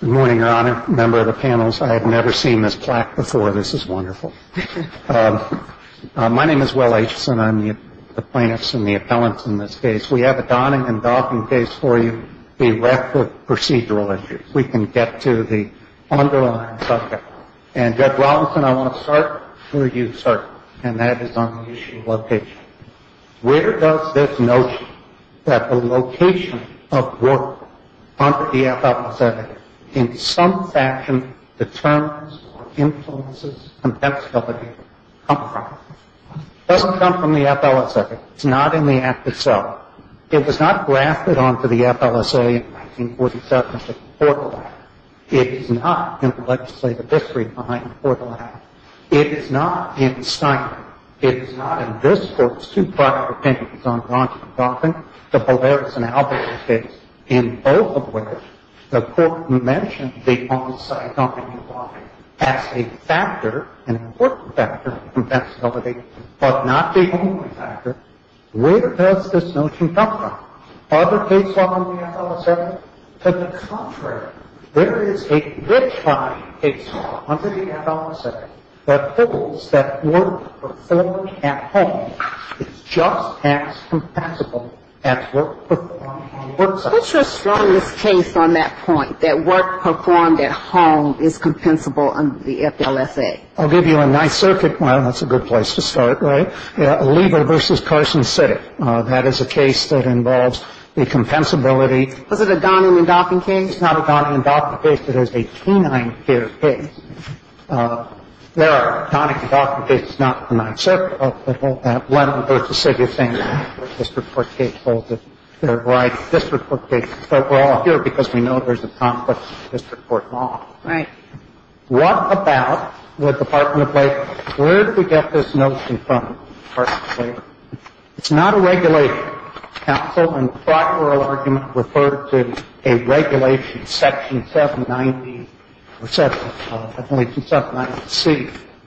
Good morning, Your Honor. Member of the panels, I have never seen this plaque before. This is wonderful. My name is Will Acheson. I'm the plaintiff's and the appellant's in this case. We have a donning and doffing case for you directed procedural issues. We can get to the underlying subject. And, Judge Robinson, I want to start where you started, and that is on the issue of location. Where does this notion that the location of work under the FLSA in some fashion determines or influences compensability come from? It doesn't come from the FLSA. It's not in the Act itself. It was not grafted onto the FLSA in 1947 as a portal act. It is not in the legislative history behind the portal act. It is not in Steinman. It is not in this Court's two prior opinions on donning and doffing, the Boberus and Alberton case, in both of which the Court mentioned the on-site donning and doffing as a factor, an important factor, for compensability, but not the only factor. Where does this notion come from? Other case law under the FLSA? To the contrary, there is a good time case law under the FLSA that holds that work performed at home is just as compensable as work performed on the work site. What's your strongest case on that point, that work performed at home is compensable under the FLSA? I'll give you a nice circuit. Well, that's a good place to start, right? A lever versus Carson City. That is a case that involves the compensability. Was it a donning and doffing case? It's not a donning and doffing case. It is a canine-feared case. There are donning and doffing cases, not in my circuit, but both at Lennon v. City of St. Louis, where district court case holds it. There are a variety of district court cases, but we're all here because we know there's a conflict in district court law. Right. What about the Department of Labor? Where did we get this notion from, Department of Labor? It's not a regulation. Counsel in the prior oral argument referred to a regulation, Section 790C.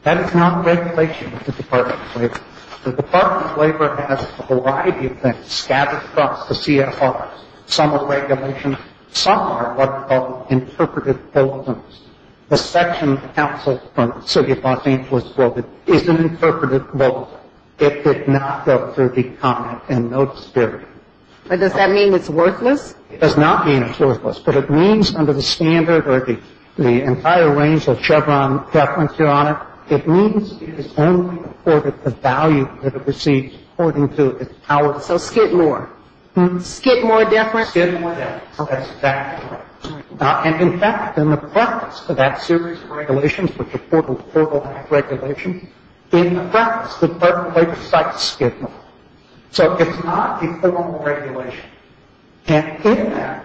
That is not regulation of the Department of Labor. The Department of Labor has a variety of things, scattered across the CFRs. Some are regulations. Some are what are called interpretive bulletins. The section counseled from the city of Los Angeles voted is an interpretive bulletin. It did not go through the comment and no dispute. But does that mean it's worthless? It does not mean it's worthless, but it means under the standard or the entire range of Chevron deference, Your Honor, it means it is only afforded the value that it receives according to its power. So skid more. Skid more deference. Skid more deference. That's exactly right. And, in fact, in the preface to that series of regulations, which are portal-to-portal regulations, in the preface, the Department of Labor cites skid more. So it's not a formal regulation. And in that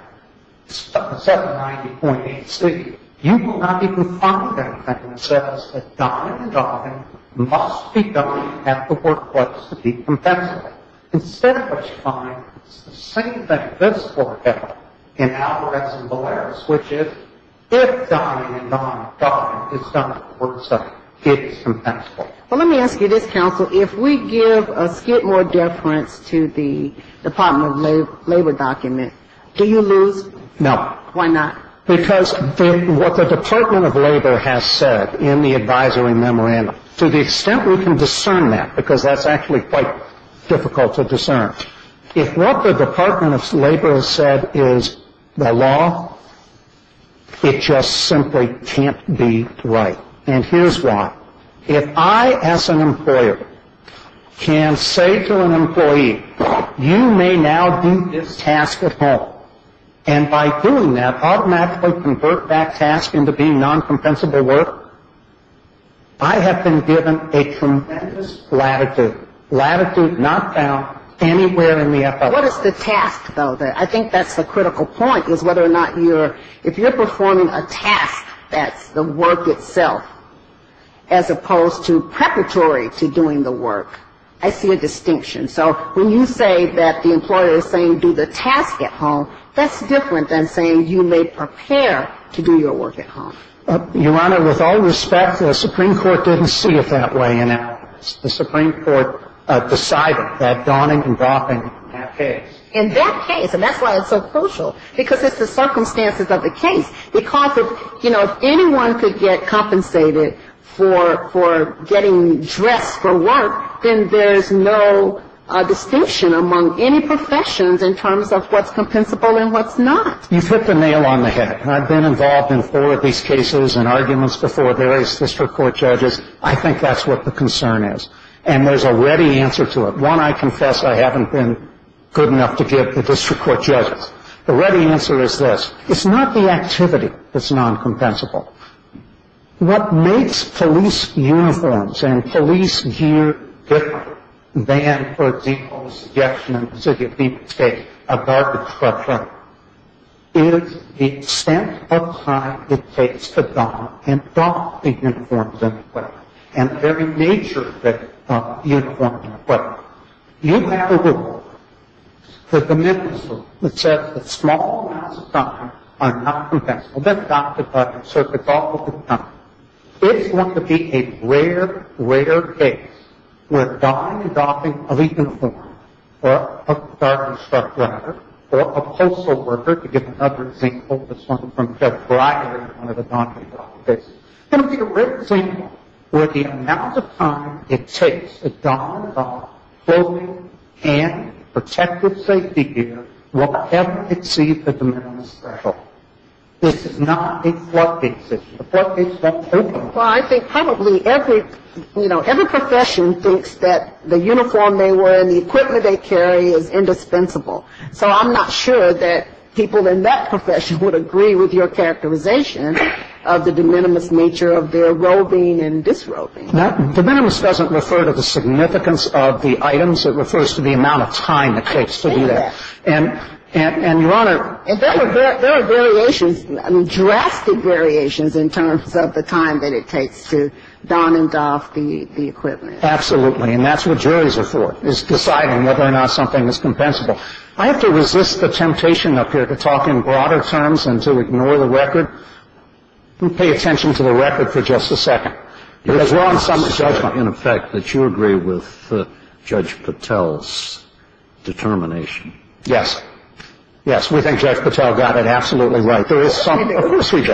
790.8C, you will not even find anything that says that diamond to diamond must be done at the workplace to be compensated. Instead what you find is the same thing this Court did in Alvarez and Valeras, which is if diamond to diamond is done at the work site, it is compensable. Well, let me ask you this, counsel. If we give a skid more deference to the Department of Labor document, do you lose? No. Why not? Because what the Department of Labor has said in the advisory memorandum, to the extent we can discern that, because that's actually quite difficult to discern, if what the Department of Labor has said is the law, it just simply can't be right. And here's why. If I, as an employer, can say to an employee, you may now do this task at home, and by doing that, automatically convert that task into being non-compensable work, I have been given a tremendous latitude. Latitude not found anywhere in the FOA. What is the task, though? I think that's the critical point, is whether or not you're, if you're performing a task that's the work itself, as opposed to preparatory to doing the work. I see a distinction. So when you say that the employer is saying do the task at home, that's different than saying you may prepare to do your work at home. Your Honor, with all respect, the Supreme Court didn't see it that way in Alamance. The Supreme Court decided that Donning and Goffin have case. And that case, and that's why it's so crucial, because it's the circumstances of the case. Because, you know, if anyone could get compensated for getting dressed for work, then there's no distinction among any professions in terms of what's compensable and what's not. You've hit the nail on the head. I've been involved in four of these cases and arguments before various district court judges. I think that's what the concern is. And there's a ready answer to it. One, I confess I haven't been good enough to give to district court judges. The ready answer is this. It's not the activity that's non-compensable. What makes police uniforms and police gear different than, for example, a suggestion in the city of Deep State, a garbage truck truck, is the extent of time it takes to don and drop the uniforms and equipment, you have a rule that says that small amounts of time are not compensable. That's Dr. Goffin. So if it's all of the time, it's going to be a rare, rare case where donning and goffing of a uniform or a garbage truck driver or a postal worker, to give another example, this one from Jeff Breyer in one of the Donning and Goffin cases, it's going to be a rare example where the amount of time it takes to don and goff clothing and protective safety gear will never exceed the de minimis threshold. This is not a floodgate system. A floodgate system is open. Well, I think probably every, you know, every profession thinks that the uniform they wear and the equipment they carry is indispensable. So I'm not sure that people in that profession would agree with your characterization of the de minimis nature of their roving and disroving. De minimis doesn't refer to the significance of the items. It refers to the amount of time it takes to do that. And, Your Honor. There are variations, drastic variations in terms of the time that it takes to don and goff the equipment. Absolutely. And that's what juries are for, is deciding whether or not something is compensable. I have to resist the temptation up here to talk in broader terms and to ignore the record. Pay attention to the record for just a second. Because we're on some judgment. In effect, that you agree with Judge Patel's determination. Yes. Yes, we think Judge Patel got it absolutely right. Of course we do.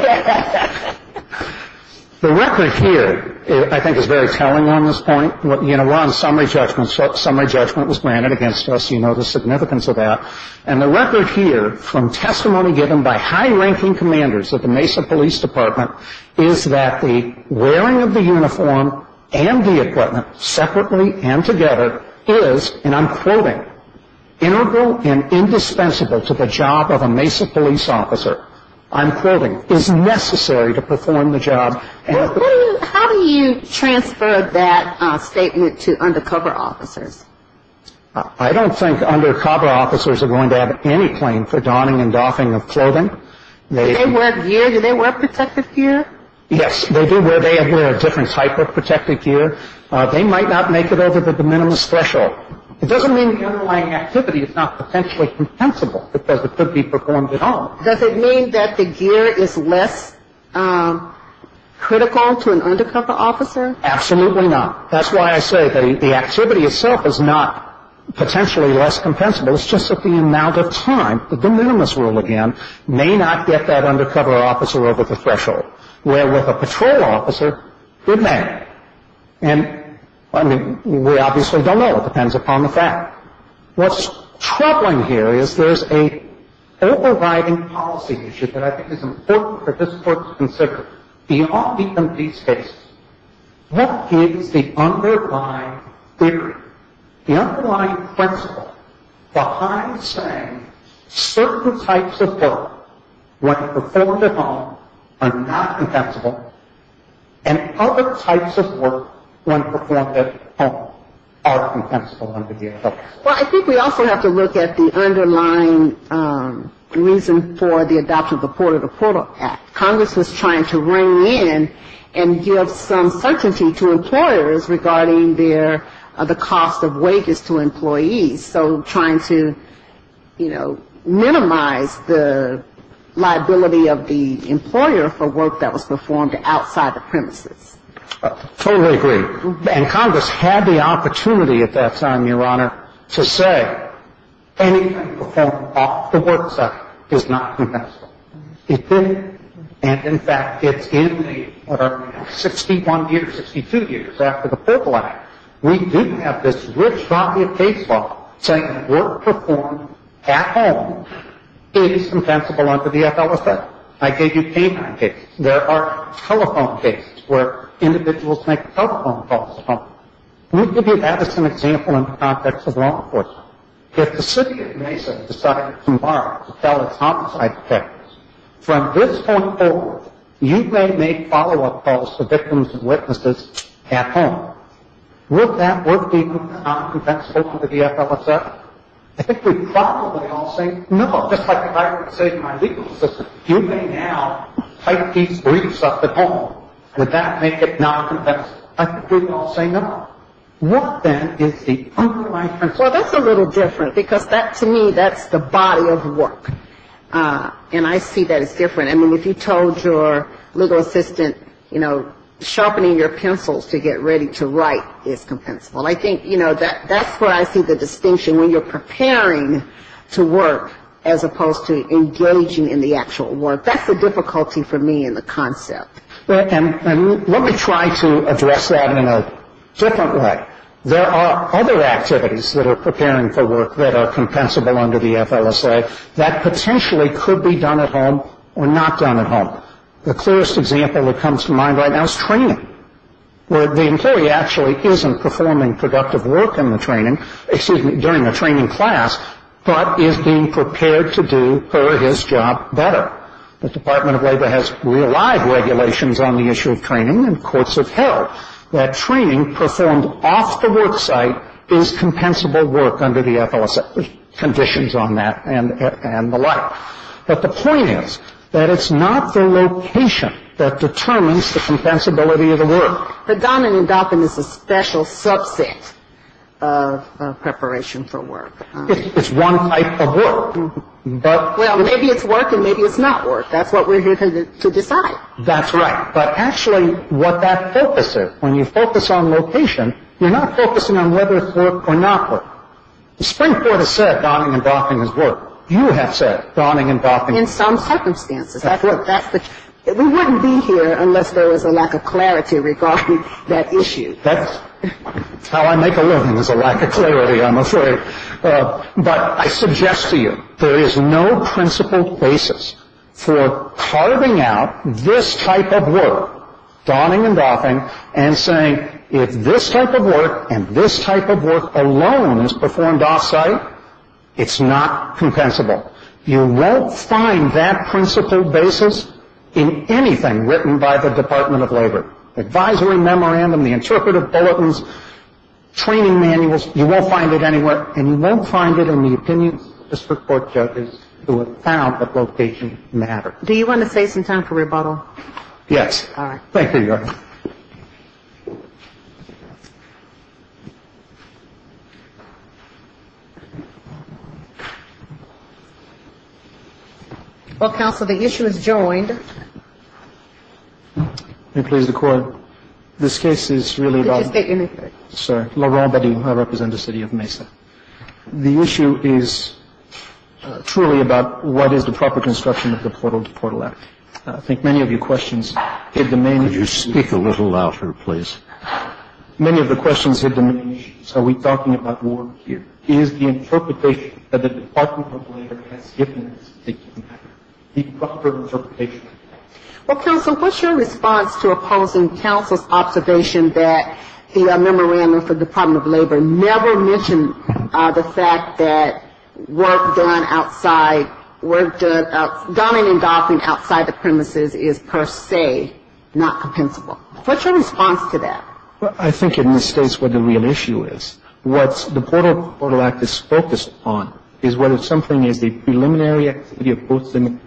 The record here, I think, is very telling on this point. We're on summary judgment. Summary judgment was granted against us. You know the significance of that. And the record here, from testimony given by high-ranking commanders of the Mesa Police Department, is that the wearing of the uniform and the equipment separately and together is, and I'm quoting, integral and indispensable to the job of a Mesa police officer, I'm quoting, is necessary to perform the job. How do you transfer that statement to undercover officers? I don't think undercover officers are going to have any claim for donning and doffing of clothing. Do they wear gear? Do they wear protective gear? Yes, they do. They wear a different type of protective gear. They might not make it over the de minimis threshold. It doesn't mean the underlying activity is not potentially compensable, because it could be performed at all. Does it mean that the gear is less critical to an undercover officer? Absolutely not. That's why I say the activity itself is not potentially less compensable. It's just that the amount of time, the de minimis rule again, may not get that undercover officer over the threshold, where with a patrol officer, it may. And, I mean, we obviously don't know. It depends upon the fact. What's troubling here is there's an overriding policy issue that I think is important for this Court to consider. Beyond the MP's case, what is the underlying theory, the underlying principle, behind saying certain types of work, when performed at home, are not compensable, and other types of work, when performed at home, are compensable under the effect? Well, I think we also have to look at the underlying reason for the adoption of the Porter-to-Porter Act. Congress was trying to ring in and give some certainty to employers regarding their, the cost of wages to employees. So trying to, you know, minimize the liability of the employer for work that was performed outside the premises. Totally agree. And Congress had the opportunity at that time, Your Honor, to say anything performed off the work site is not compensable. It didn't. And, in fact, it's in the 61 years, 62 years after the Porter Act, we do have this rich body of case law saying work performed at home is compensable under the FLSA. I gave you canine cases. There are telephone cases where individuals make telephone calls at home. Let me give you that as an example in the context of law enforcement. If the city of Mesa decided tomorrow to tell its homicide detectives, from this point forward, you may make follow-up calls to victims and witnesses at home. Would that work be non-compensable under the FLSA? I think we'd probably all say no, just like I would say to my legal assistant. You may now type these briefs up at home. Would that make it non-compensable? I think we'd all say no. Work, then, is the underlying principle. Well, that's a little different, because that, to me, that's the body of work. And I see that as different. I mean, if you told your legal assistant, you know, sharpening your pencils to get ready to write is compensable, I think, you know, that's where I see the distinction, when you're preparing to work as opposed to engaging in the actual work. That's the difficulty for me in the concept. Let me try to address that in a different way. There are other activities that are preparing for work that are compensable under the FLSA. That potentially could be done at home or not done at home. The clearest example that comes to mind right now is training, where the employee actually isn't performing productive work in the training, excuse me, during a training class, but is being prepared to do her or his job better. The Department of Labor has relied regulations on the issue of training, and courts have held that training performed off the work site is compensable work under the FLSA, conditions on that and the like. But the point is that it's not the location that determines the compensability of the work. But Donovan & Dauphin is a special subset of preparation for work. It's one type of work. Well, maybe it's work and maybe it's not work. That's what we're here to decide. That's right. But actually what that focus is, when you focus on location, you're not focusing on whether it's work or not work. The Supreme Court has said Donovan & Dauphin is work. You have said Donovan & Dauphin is work. In some circumstances. We wouldn't be here unless there was a lack of clarity regarding that issue. That's how I make a living, is a lack of clarity, I'm afraid. But I suggest to you there is no principled basis for carving out this type of work, Donovan & Dauphin, and saying if this type of work and this type of work alone is performed off-site, it's not compensable. You won't find that principled basis in anything written by the Department of Labor. The advisory memorandum, the interpretive bulletins, training manuals, you won't find it anywhere. And you won't find it in the opinions of district court judges who have found that location matters. Do you want to save some time for rebuttal? All right. Thank you, Your Honor. Well, counsel, the issue is joined. The issue is truly about what is the proper construction of the Portal to Portal Act. I think many of your questions hit the main issue. Could you speak a little louder, please? Many of the questions hit the main issue. Are we talking about war here? Is the interpretation that the Department of Labor has given us, the proper interpretation of the Portal to Portal Act, Well, counsel, what's your response to opposing counsel's observation that the memorandum for the Department of Labor never mentioned the fact that work done outside the premises is per se not compensable? What's your response to that? I think it misstates what the real issue is. What the Portal to Portal Act is focused on is whether something is a preliminary activity of both citizens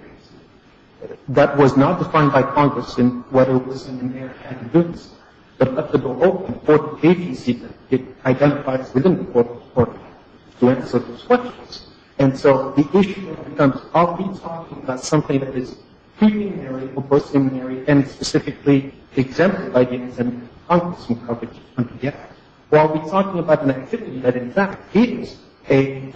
that was not defined by Congress in whether it was an inerrant act of goodness, but up to the whole important agency that it identifies within the Portal to Portal Act to answer those questions. And so the issue becomes are we talking about something that is preliminary or post-liminary and specifically exempted by the consent of Congress from coverage? Yes. Or are we talking about an activity that in fact is a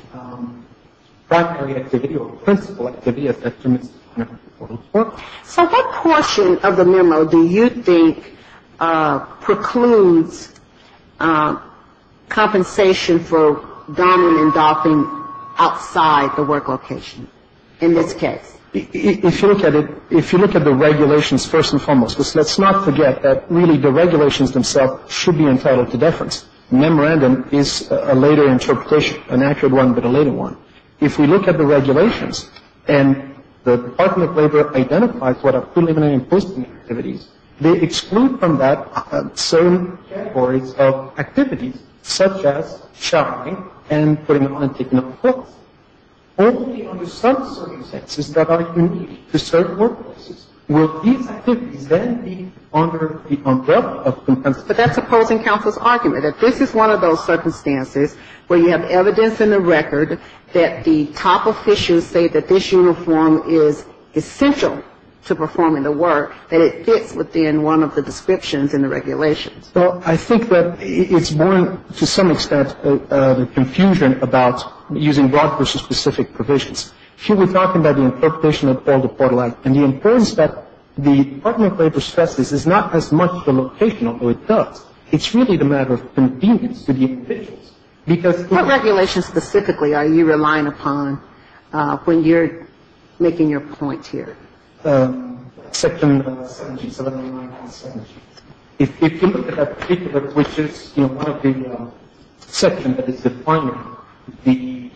primary activity or principal activity as determined by the Portal to Portal Act? So what portion of the memo do you think precludes compensation for dominant doffing outside the work location in this case? If you look at it, if you look at the regulations first and foremost, let's not forget that really the regulations themselves should be entitled to deference. Memorandum is a later interpretation, an accurate one but a later one. If we look at the regulations and the Department of Labor identifies what are preliminary and post-liminary activities, they exclude from that certain categories of activities such as showering and putting on and taking off clothes. Only under some circumstances that are unique to certain workplaces will these activities then be under the umbrella of compensation. But that's opposing counsel's argument, that this is one of those circumstances where you have evidence in the record that the top officials say that this uniform is essential to performing the work, that it fits within one of the descriptions in the regulations. Well, I think that it's borne to some extent the confusion about using broad versus specific provisions. If you were talking about the interpretation of the Portal to Portal Act and the importance that the Department of Labor stresses is not as much the location, although it does, it's really the matter of convenience to the officials. What regulations specifically are you relying upon when you're making your point here? Section 79.7. If you look at that paper, which is, you know, one of the sections that is defining the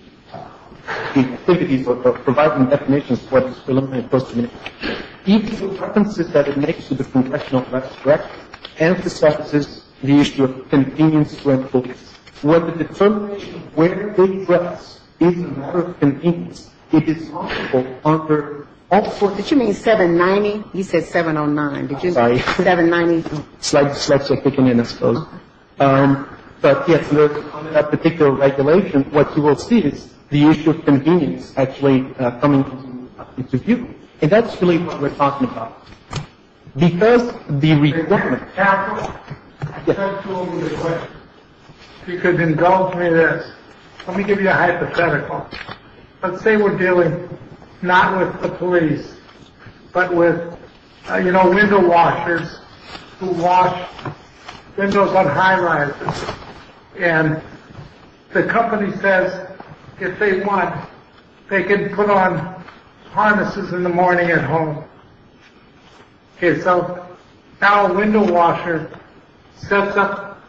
activities or providing definitions of what is preliminary and post-liminary, each of the references that it makes to the congressional drafts emphasizes the issue of convenience to employees. What the determination of where they address is a matter of convenience. It is possible under all four. Did you mean 790? He said 709. I'm sorry. 790. Slides are kicking in, I suppose. But, yes, under that particular regulation, what you will see is the issue of convenience actually coming into view. And that's really what we're talking about. Because the requirement. Yes. You could indulge me this. Let me give you a hypothetical. Let's say we're dealing not with the police, but with, you know, window washers who wash windows on high rises. And the company says if they want, they can put on harnesses in the morning at home. So now a window washer sets up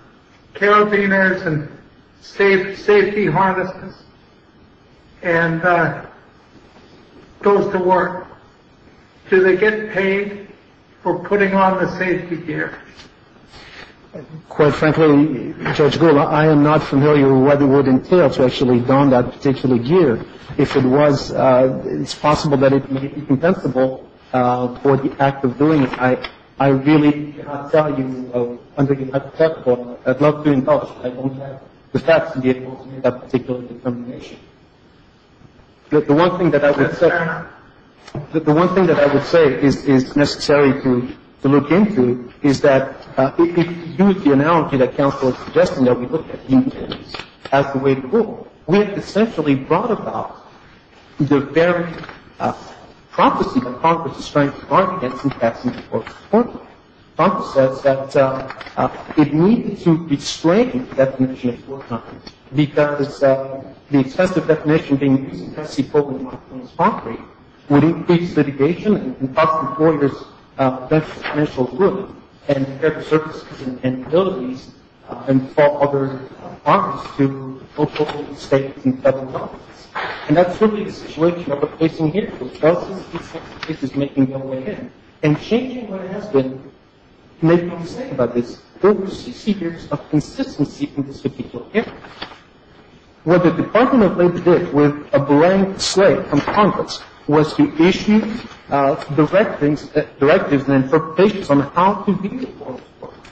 carabiners and safety harnesses and goes to work. Do they get paid for putting on the safety gear? Quite frankly, Judge Gould, I am not familiar with what it would entail to actually don that particular gear. If it was, it's possible that it may be compensable for the act of doing it. I really cannot tell you, under your hypothetical, but I'd love to indulge you. I don't have the facts to be able to make that particular determination. The one thing that I would say is necessary to look into is that, if you use the analogy that counsel is suggesting that we look at convenience as the way to go, we have essentially brought about the very prophecy that Congress is trying to bargain against in passing the Court of Appeals. Congress says that it needed to restrain the definition of poor companies because the excessive definition being used in Tennessee, Poland, and Washington as concrete, would increase litigation and cost employers financial ruin and services and abilities and fall other arms to local states and federal governments. And that's really the situation that we're facing here. The process of this case is making no way in. And changing what has been made no mistake about this, there were 60 years of consistency in this particular case. What the Department of Labor did with a blank slate from Congress was to issue directives and interpretations on how to deal with poor employers.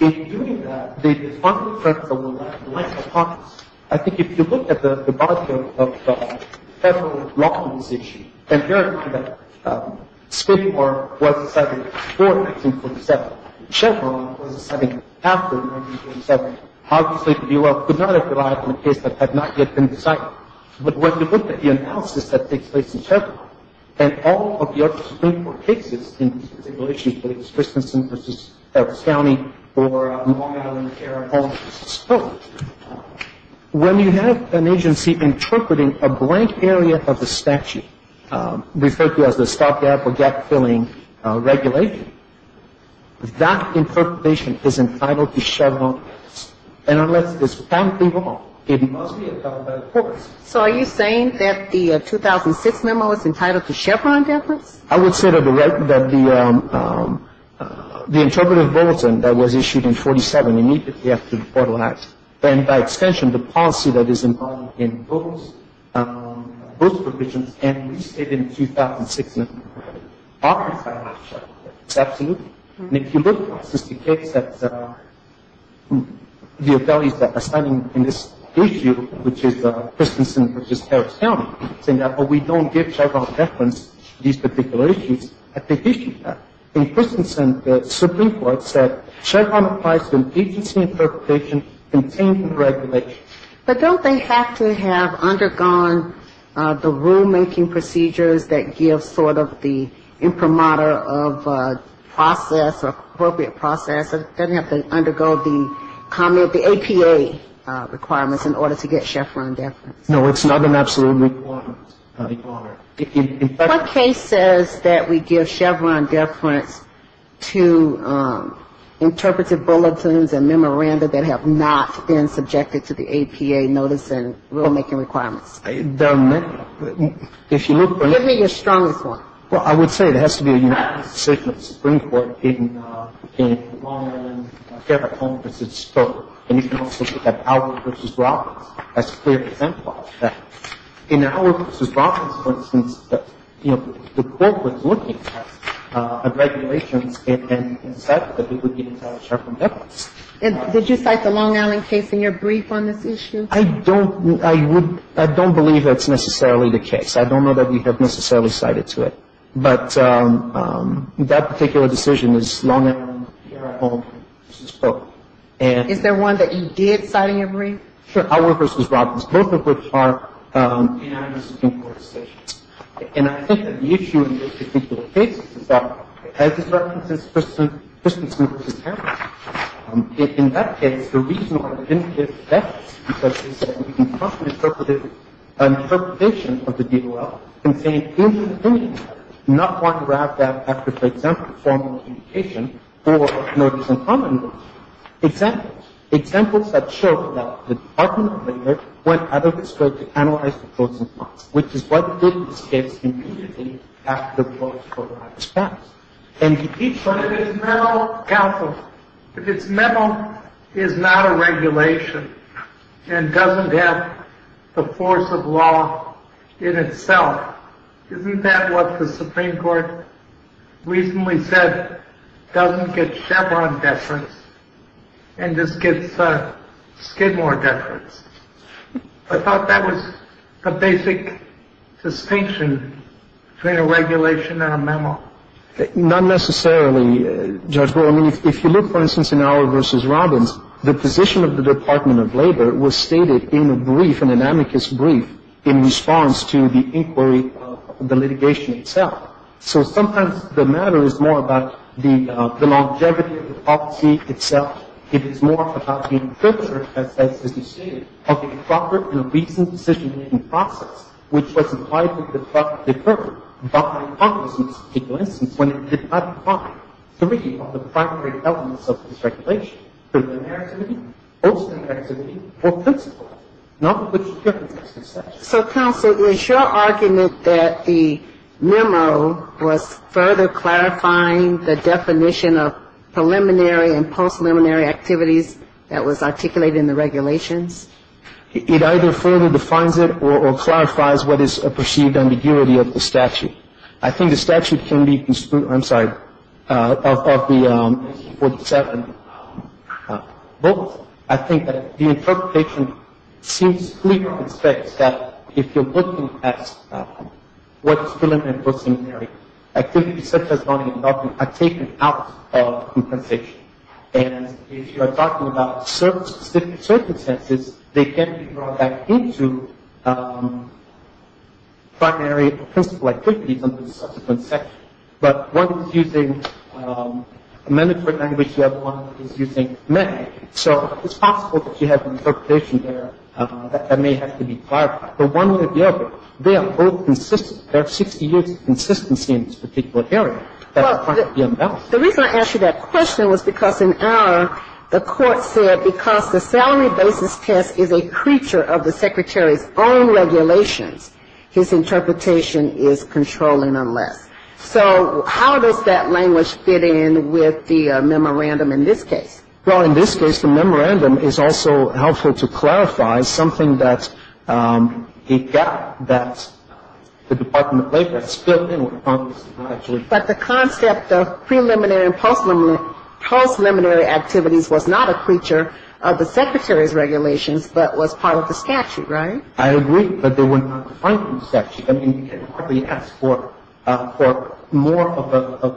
In doing that, they defunded the practice of relying on Congress. I think if you look at the body of federal law in this issue, and verify that Springport was decided before 1947, Chevron was decided after 1947, obviously the Bureau could not have relied on a case that had not yet been decided. But when you look at the analysis that takes place in Chevron, and all of the other Springport cases in this particular issue, whether it's Christensen v. Epps County or Long Island care home, when you have an agency interpreting a blank area of the statute, referred to as the stop-gap or gap-filling regulation, that interpretation is entitled to Chevron. And unless it's apparently wrong, it must be a federal purpose. So are you saying that the 2006 memo is entitled to Chevron deference? I would say to the record that the interpretative bulletin that was issued in 47, immediately after the Portal Act, and by extension, the policy that is embodied in those provisions and restated in the 2006 memo, are entitled to Chevron deference. Absolutely. And if you look at the case that the attorneys that are standing in this issue, which is Christensen v. Harris County, saying that we don't give Chevron deference to these particular issues, I think they should have. In Christensen, the Supreme Court said Chevron applies to an agency interpretation contained in regulation. But don't they have to have undergone the rulemaking procedures that give sort of the supermodel of process or appropriate process? It doesn't have to undergo the APA requirements in order to get Chevron deference. No, it's not an absolute requirement. What case says that we give Chevron deference to interpretative bulletins and memoranda that have not been subjected to the APA notice and rulemaking requirements? If you look at it ñ Give me your strongest one. Well, I would say there has to be a unanimous decision of the Supreme Court in Long Island Fairfax County v. Stoke. And you can also look at Howard v. Robbins. That's a clear example of that. In Howard v. Robbins, for instance, you know, the Court was looking at regulations and said that we would give them Chevron deference. Did you cite the Long Island case in your brief on this issue? I don't ñ I would ñ I don't believe that's necessarily the case. I don't know that we have necessarily cited to it. But that particular decision is Long Island Fairfax County v. Stoke. And ñ Is there one that you did cite in your brief? Sure. Howard v. Robbins, both of which are unanimous Supreme Court decisions. And I think that the issue in this particular case is that, as is referred to in this particular case, in that case, the reason why we didn't give deference because of the DOL is that we can trust the interpretation of the DOL in saying, in your opinion, you do not want to grab that after, for example, formal communication or notice in common rules. Examples. Examples that show that the Department of Labor went out of its way to analyze the pros and cons, which is what did in this case immediately after the clause was passed. But if its memo ñ Counsel. If its memo is not a regulation and doesn't have the force of law in itself, isn't that what the Supreme Court recently said doesn't get Chevron deference and just gets Skidmore deference? I thought that was a basic distinction between a regulation and a memo. Not necessarily, Judge Brewer. I mean, if you look, for instance, in Auer v. Robbins, the position of the Department of Labor was stated in a brief, in an amicus brief, in response to the inquiry of the litigation itself. So sometimes the matter is more about the longevity of the policy itself. It is more about the interpreter, as you stated, of the improper and recent decision-making process, which was implied to be deferred by Congress in this particular instance when it did not apply three of the primary elements of this regulation, preliminary activity, post-preliminary activity, or principle, not which is referenced in the statute. So, Counsel, is your argument that the memo was further clarifying the definition of preliminary and post-preliminary activities that was articulated in the regulations? It either further defines it or clarifies what is a perceived ambiguity of the statute. I think the statute can be construed, I'm sorry, of the 47 books. I think that the interpretation seems clear on its face that if you're looking at what's preliminary and post-preliminary, activities such as money and government are taken out of compensation. And if you are talking about certain circumstances, they can be brought back into primary or principle activities under the subsequent section. But one is using a mandatory language, the other one is using met. So it's possible that you have an interpretation there that may have to be clarified. But one way or the other, they are both consistent. There are 60 years of consistency in this particular area that are going to be unbalanced. The reason I asked you that question was because in our, the court said, because the salary basis test is a creature of the Secretary's own regulations, his interpretation is controlling unless. So how does that language fit in with the memorandum in this case? Well, in this case, the memorandum is also helpful to clarify something that it got, that the Department of Labor spilt in with Congress. But the concept of preliminary and post-preliminary activities was not a creature of the Secretary's regulations, but was part of the statute, right? I agree, but they were not defined in the statute. I mean, you can hardly ask for more of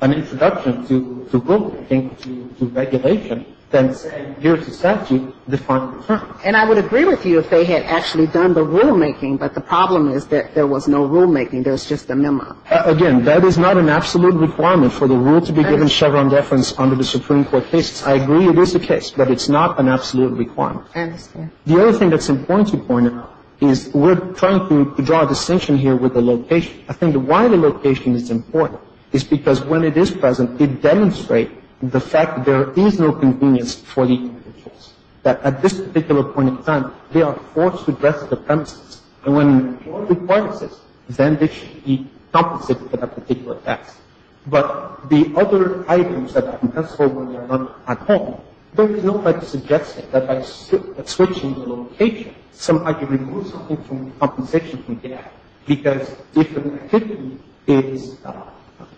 an introduction to rulemaking, to regulation, than saying here's the statute defined in the statute. And I would agree with you if they had actually done the rulemaking, but the problem is that there was no rulemaking, there was just a memo. Again, that is not an absolute requirement for the rule to be given Chevron deference under the Supreme Court case. I agree it is a case, but it's not an absolute requirement. I understand. The other thing that's important to point out is we're trying to draw a distinction here with the location. I think why the location is important is because when it is present, it demonstrates the fact that there is no convenience for the individuals, that at this particular point in time, they are forced to address the premises. And when the court requires this, then they should be compensated for that particular task. But the other items that are compensable when they are not at home, there is no point in suggesting that by switching the location, somehow you remove something from the compensation from there, because if an activity is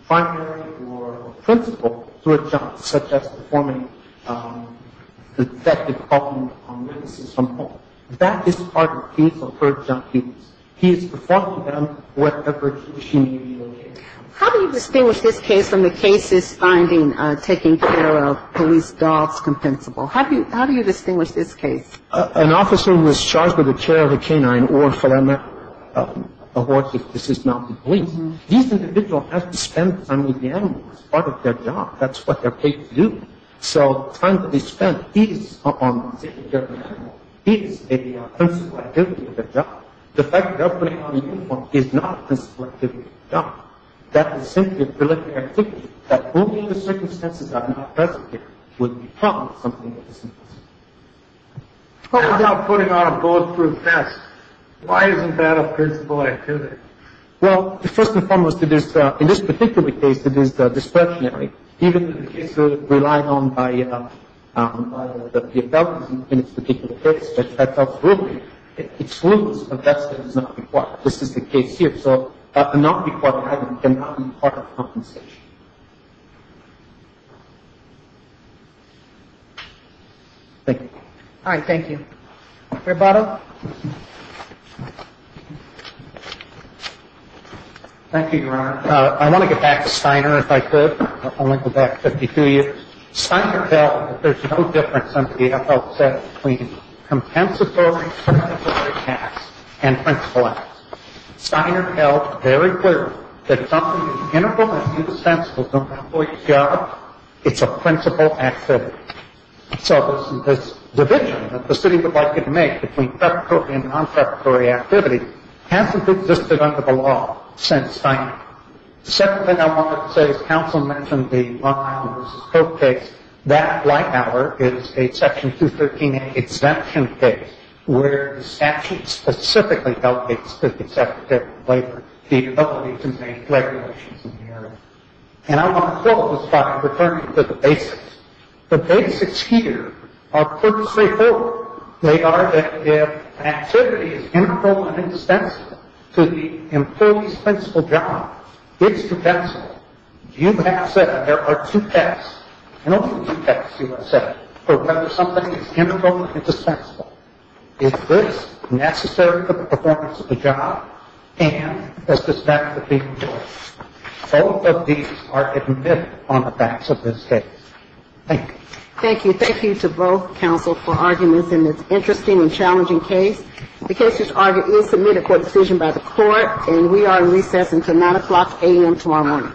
primary or principal to a child, such as performing the detective department on witnesses from home, that is part of his or her job duties. He is performing them wherever he or she may be located. How do you distinguish this case from the cases finding taking care of police dogs compensable? How do you distinguish this case? An officer who is charged with the care of a canine or a feline, of course, if this is not the case, these individuals have to spend time with the animals. It's part of their job. That's what they're paid to do. So time can be spent. The fact that he is a principal activity of the job, the fact that they're putting on a uniform is not a principal activity of the job. That is simply a delictive activity, that only in the circumstances that are not present here would be called something that is impossible. What about putting on a bulletproof vest? Why isn't that a principal activity? Well, first and foremost, in this particular case, it is discretionary. Even in the case relied on by the WFW in this particular case, that's a rule. It's rules. A vest is not required. This is the case here. So a non-required item cannot be part of compensation. Thank you. All right, thank you. Roberto? Thank you, Your Honor. I want to get back to Steiner, if I could. I want to go back 52 years. Steiner felt that there's no difference, as somebody else said, between compensatory tasks and principal tasks. Steiner felt very clearly that something that's inappropriate and insensible to an employee's job, it's a principal activity. So this division that the city would like it to make between satisfactory and non-satisfactory activity hasn't existed under the law since Steiner. The second thing I wanted to say is counsel mentioned the Long Island v. Coke case. That, like ours, is a Section 213A exemption case, where the statute specifically delegates to the executive labor the ability to make regulations in the area. And I want to quote this by referring to the basics. The basics here are put straightforward. They are that if an activity is inappropriate and insensible to the employee's principal job, it's compensatory. You have said, and there are two texts, and only two texts you have said, for whether something is inappropriate and insensible. Is this necessary for the performance of the job, and does this matter to the employee? All of these are admitted on the facts of this case. Thank you. Thank you. And thank you to both counsel for arguing this in this interesting and challenging case. The case is submitted for decision by the Court, and we are in recess until 9 o'clock a.m. tomorrow morning.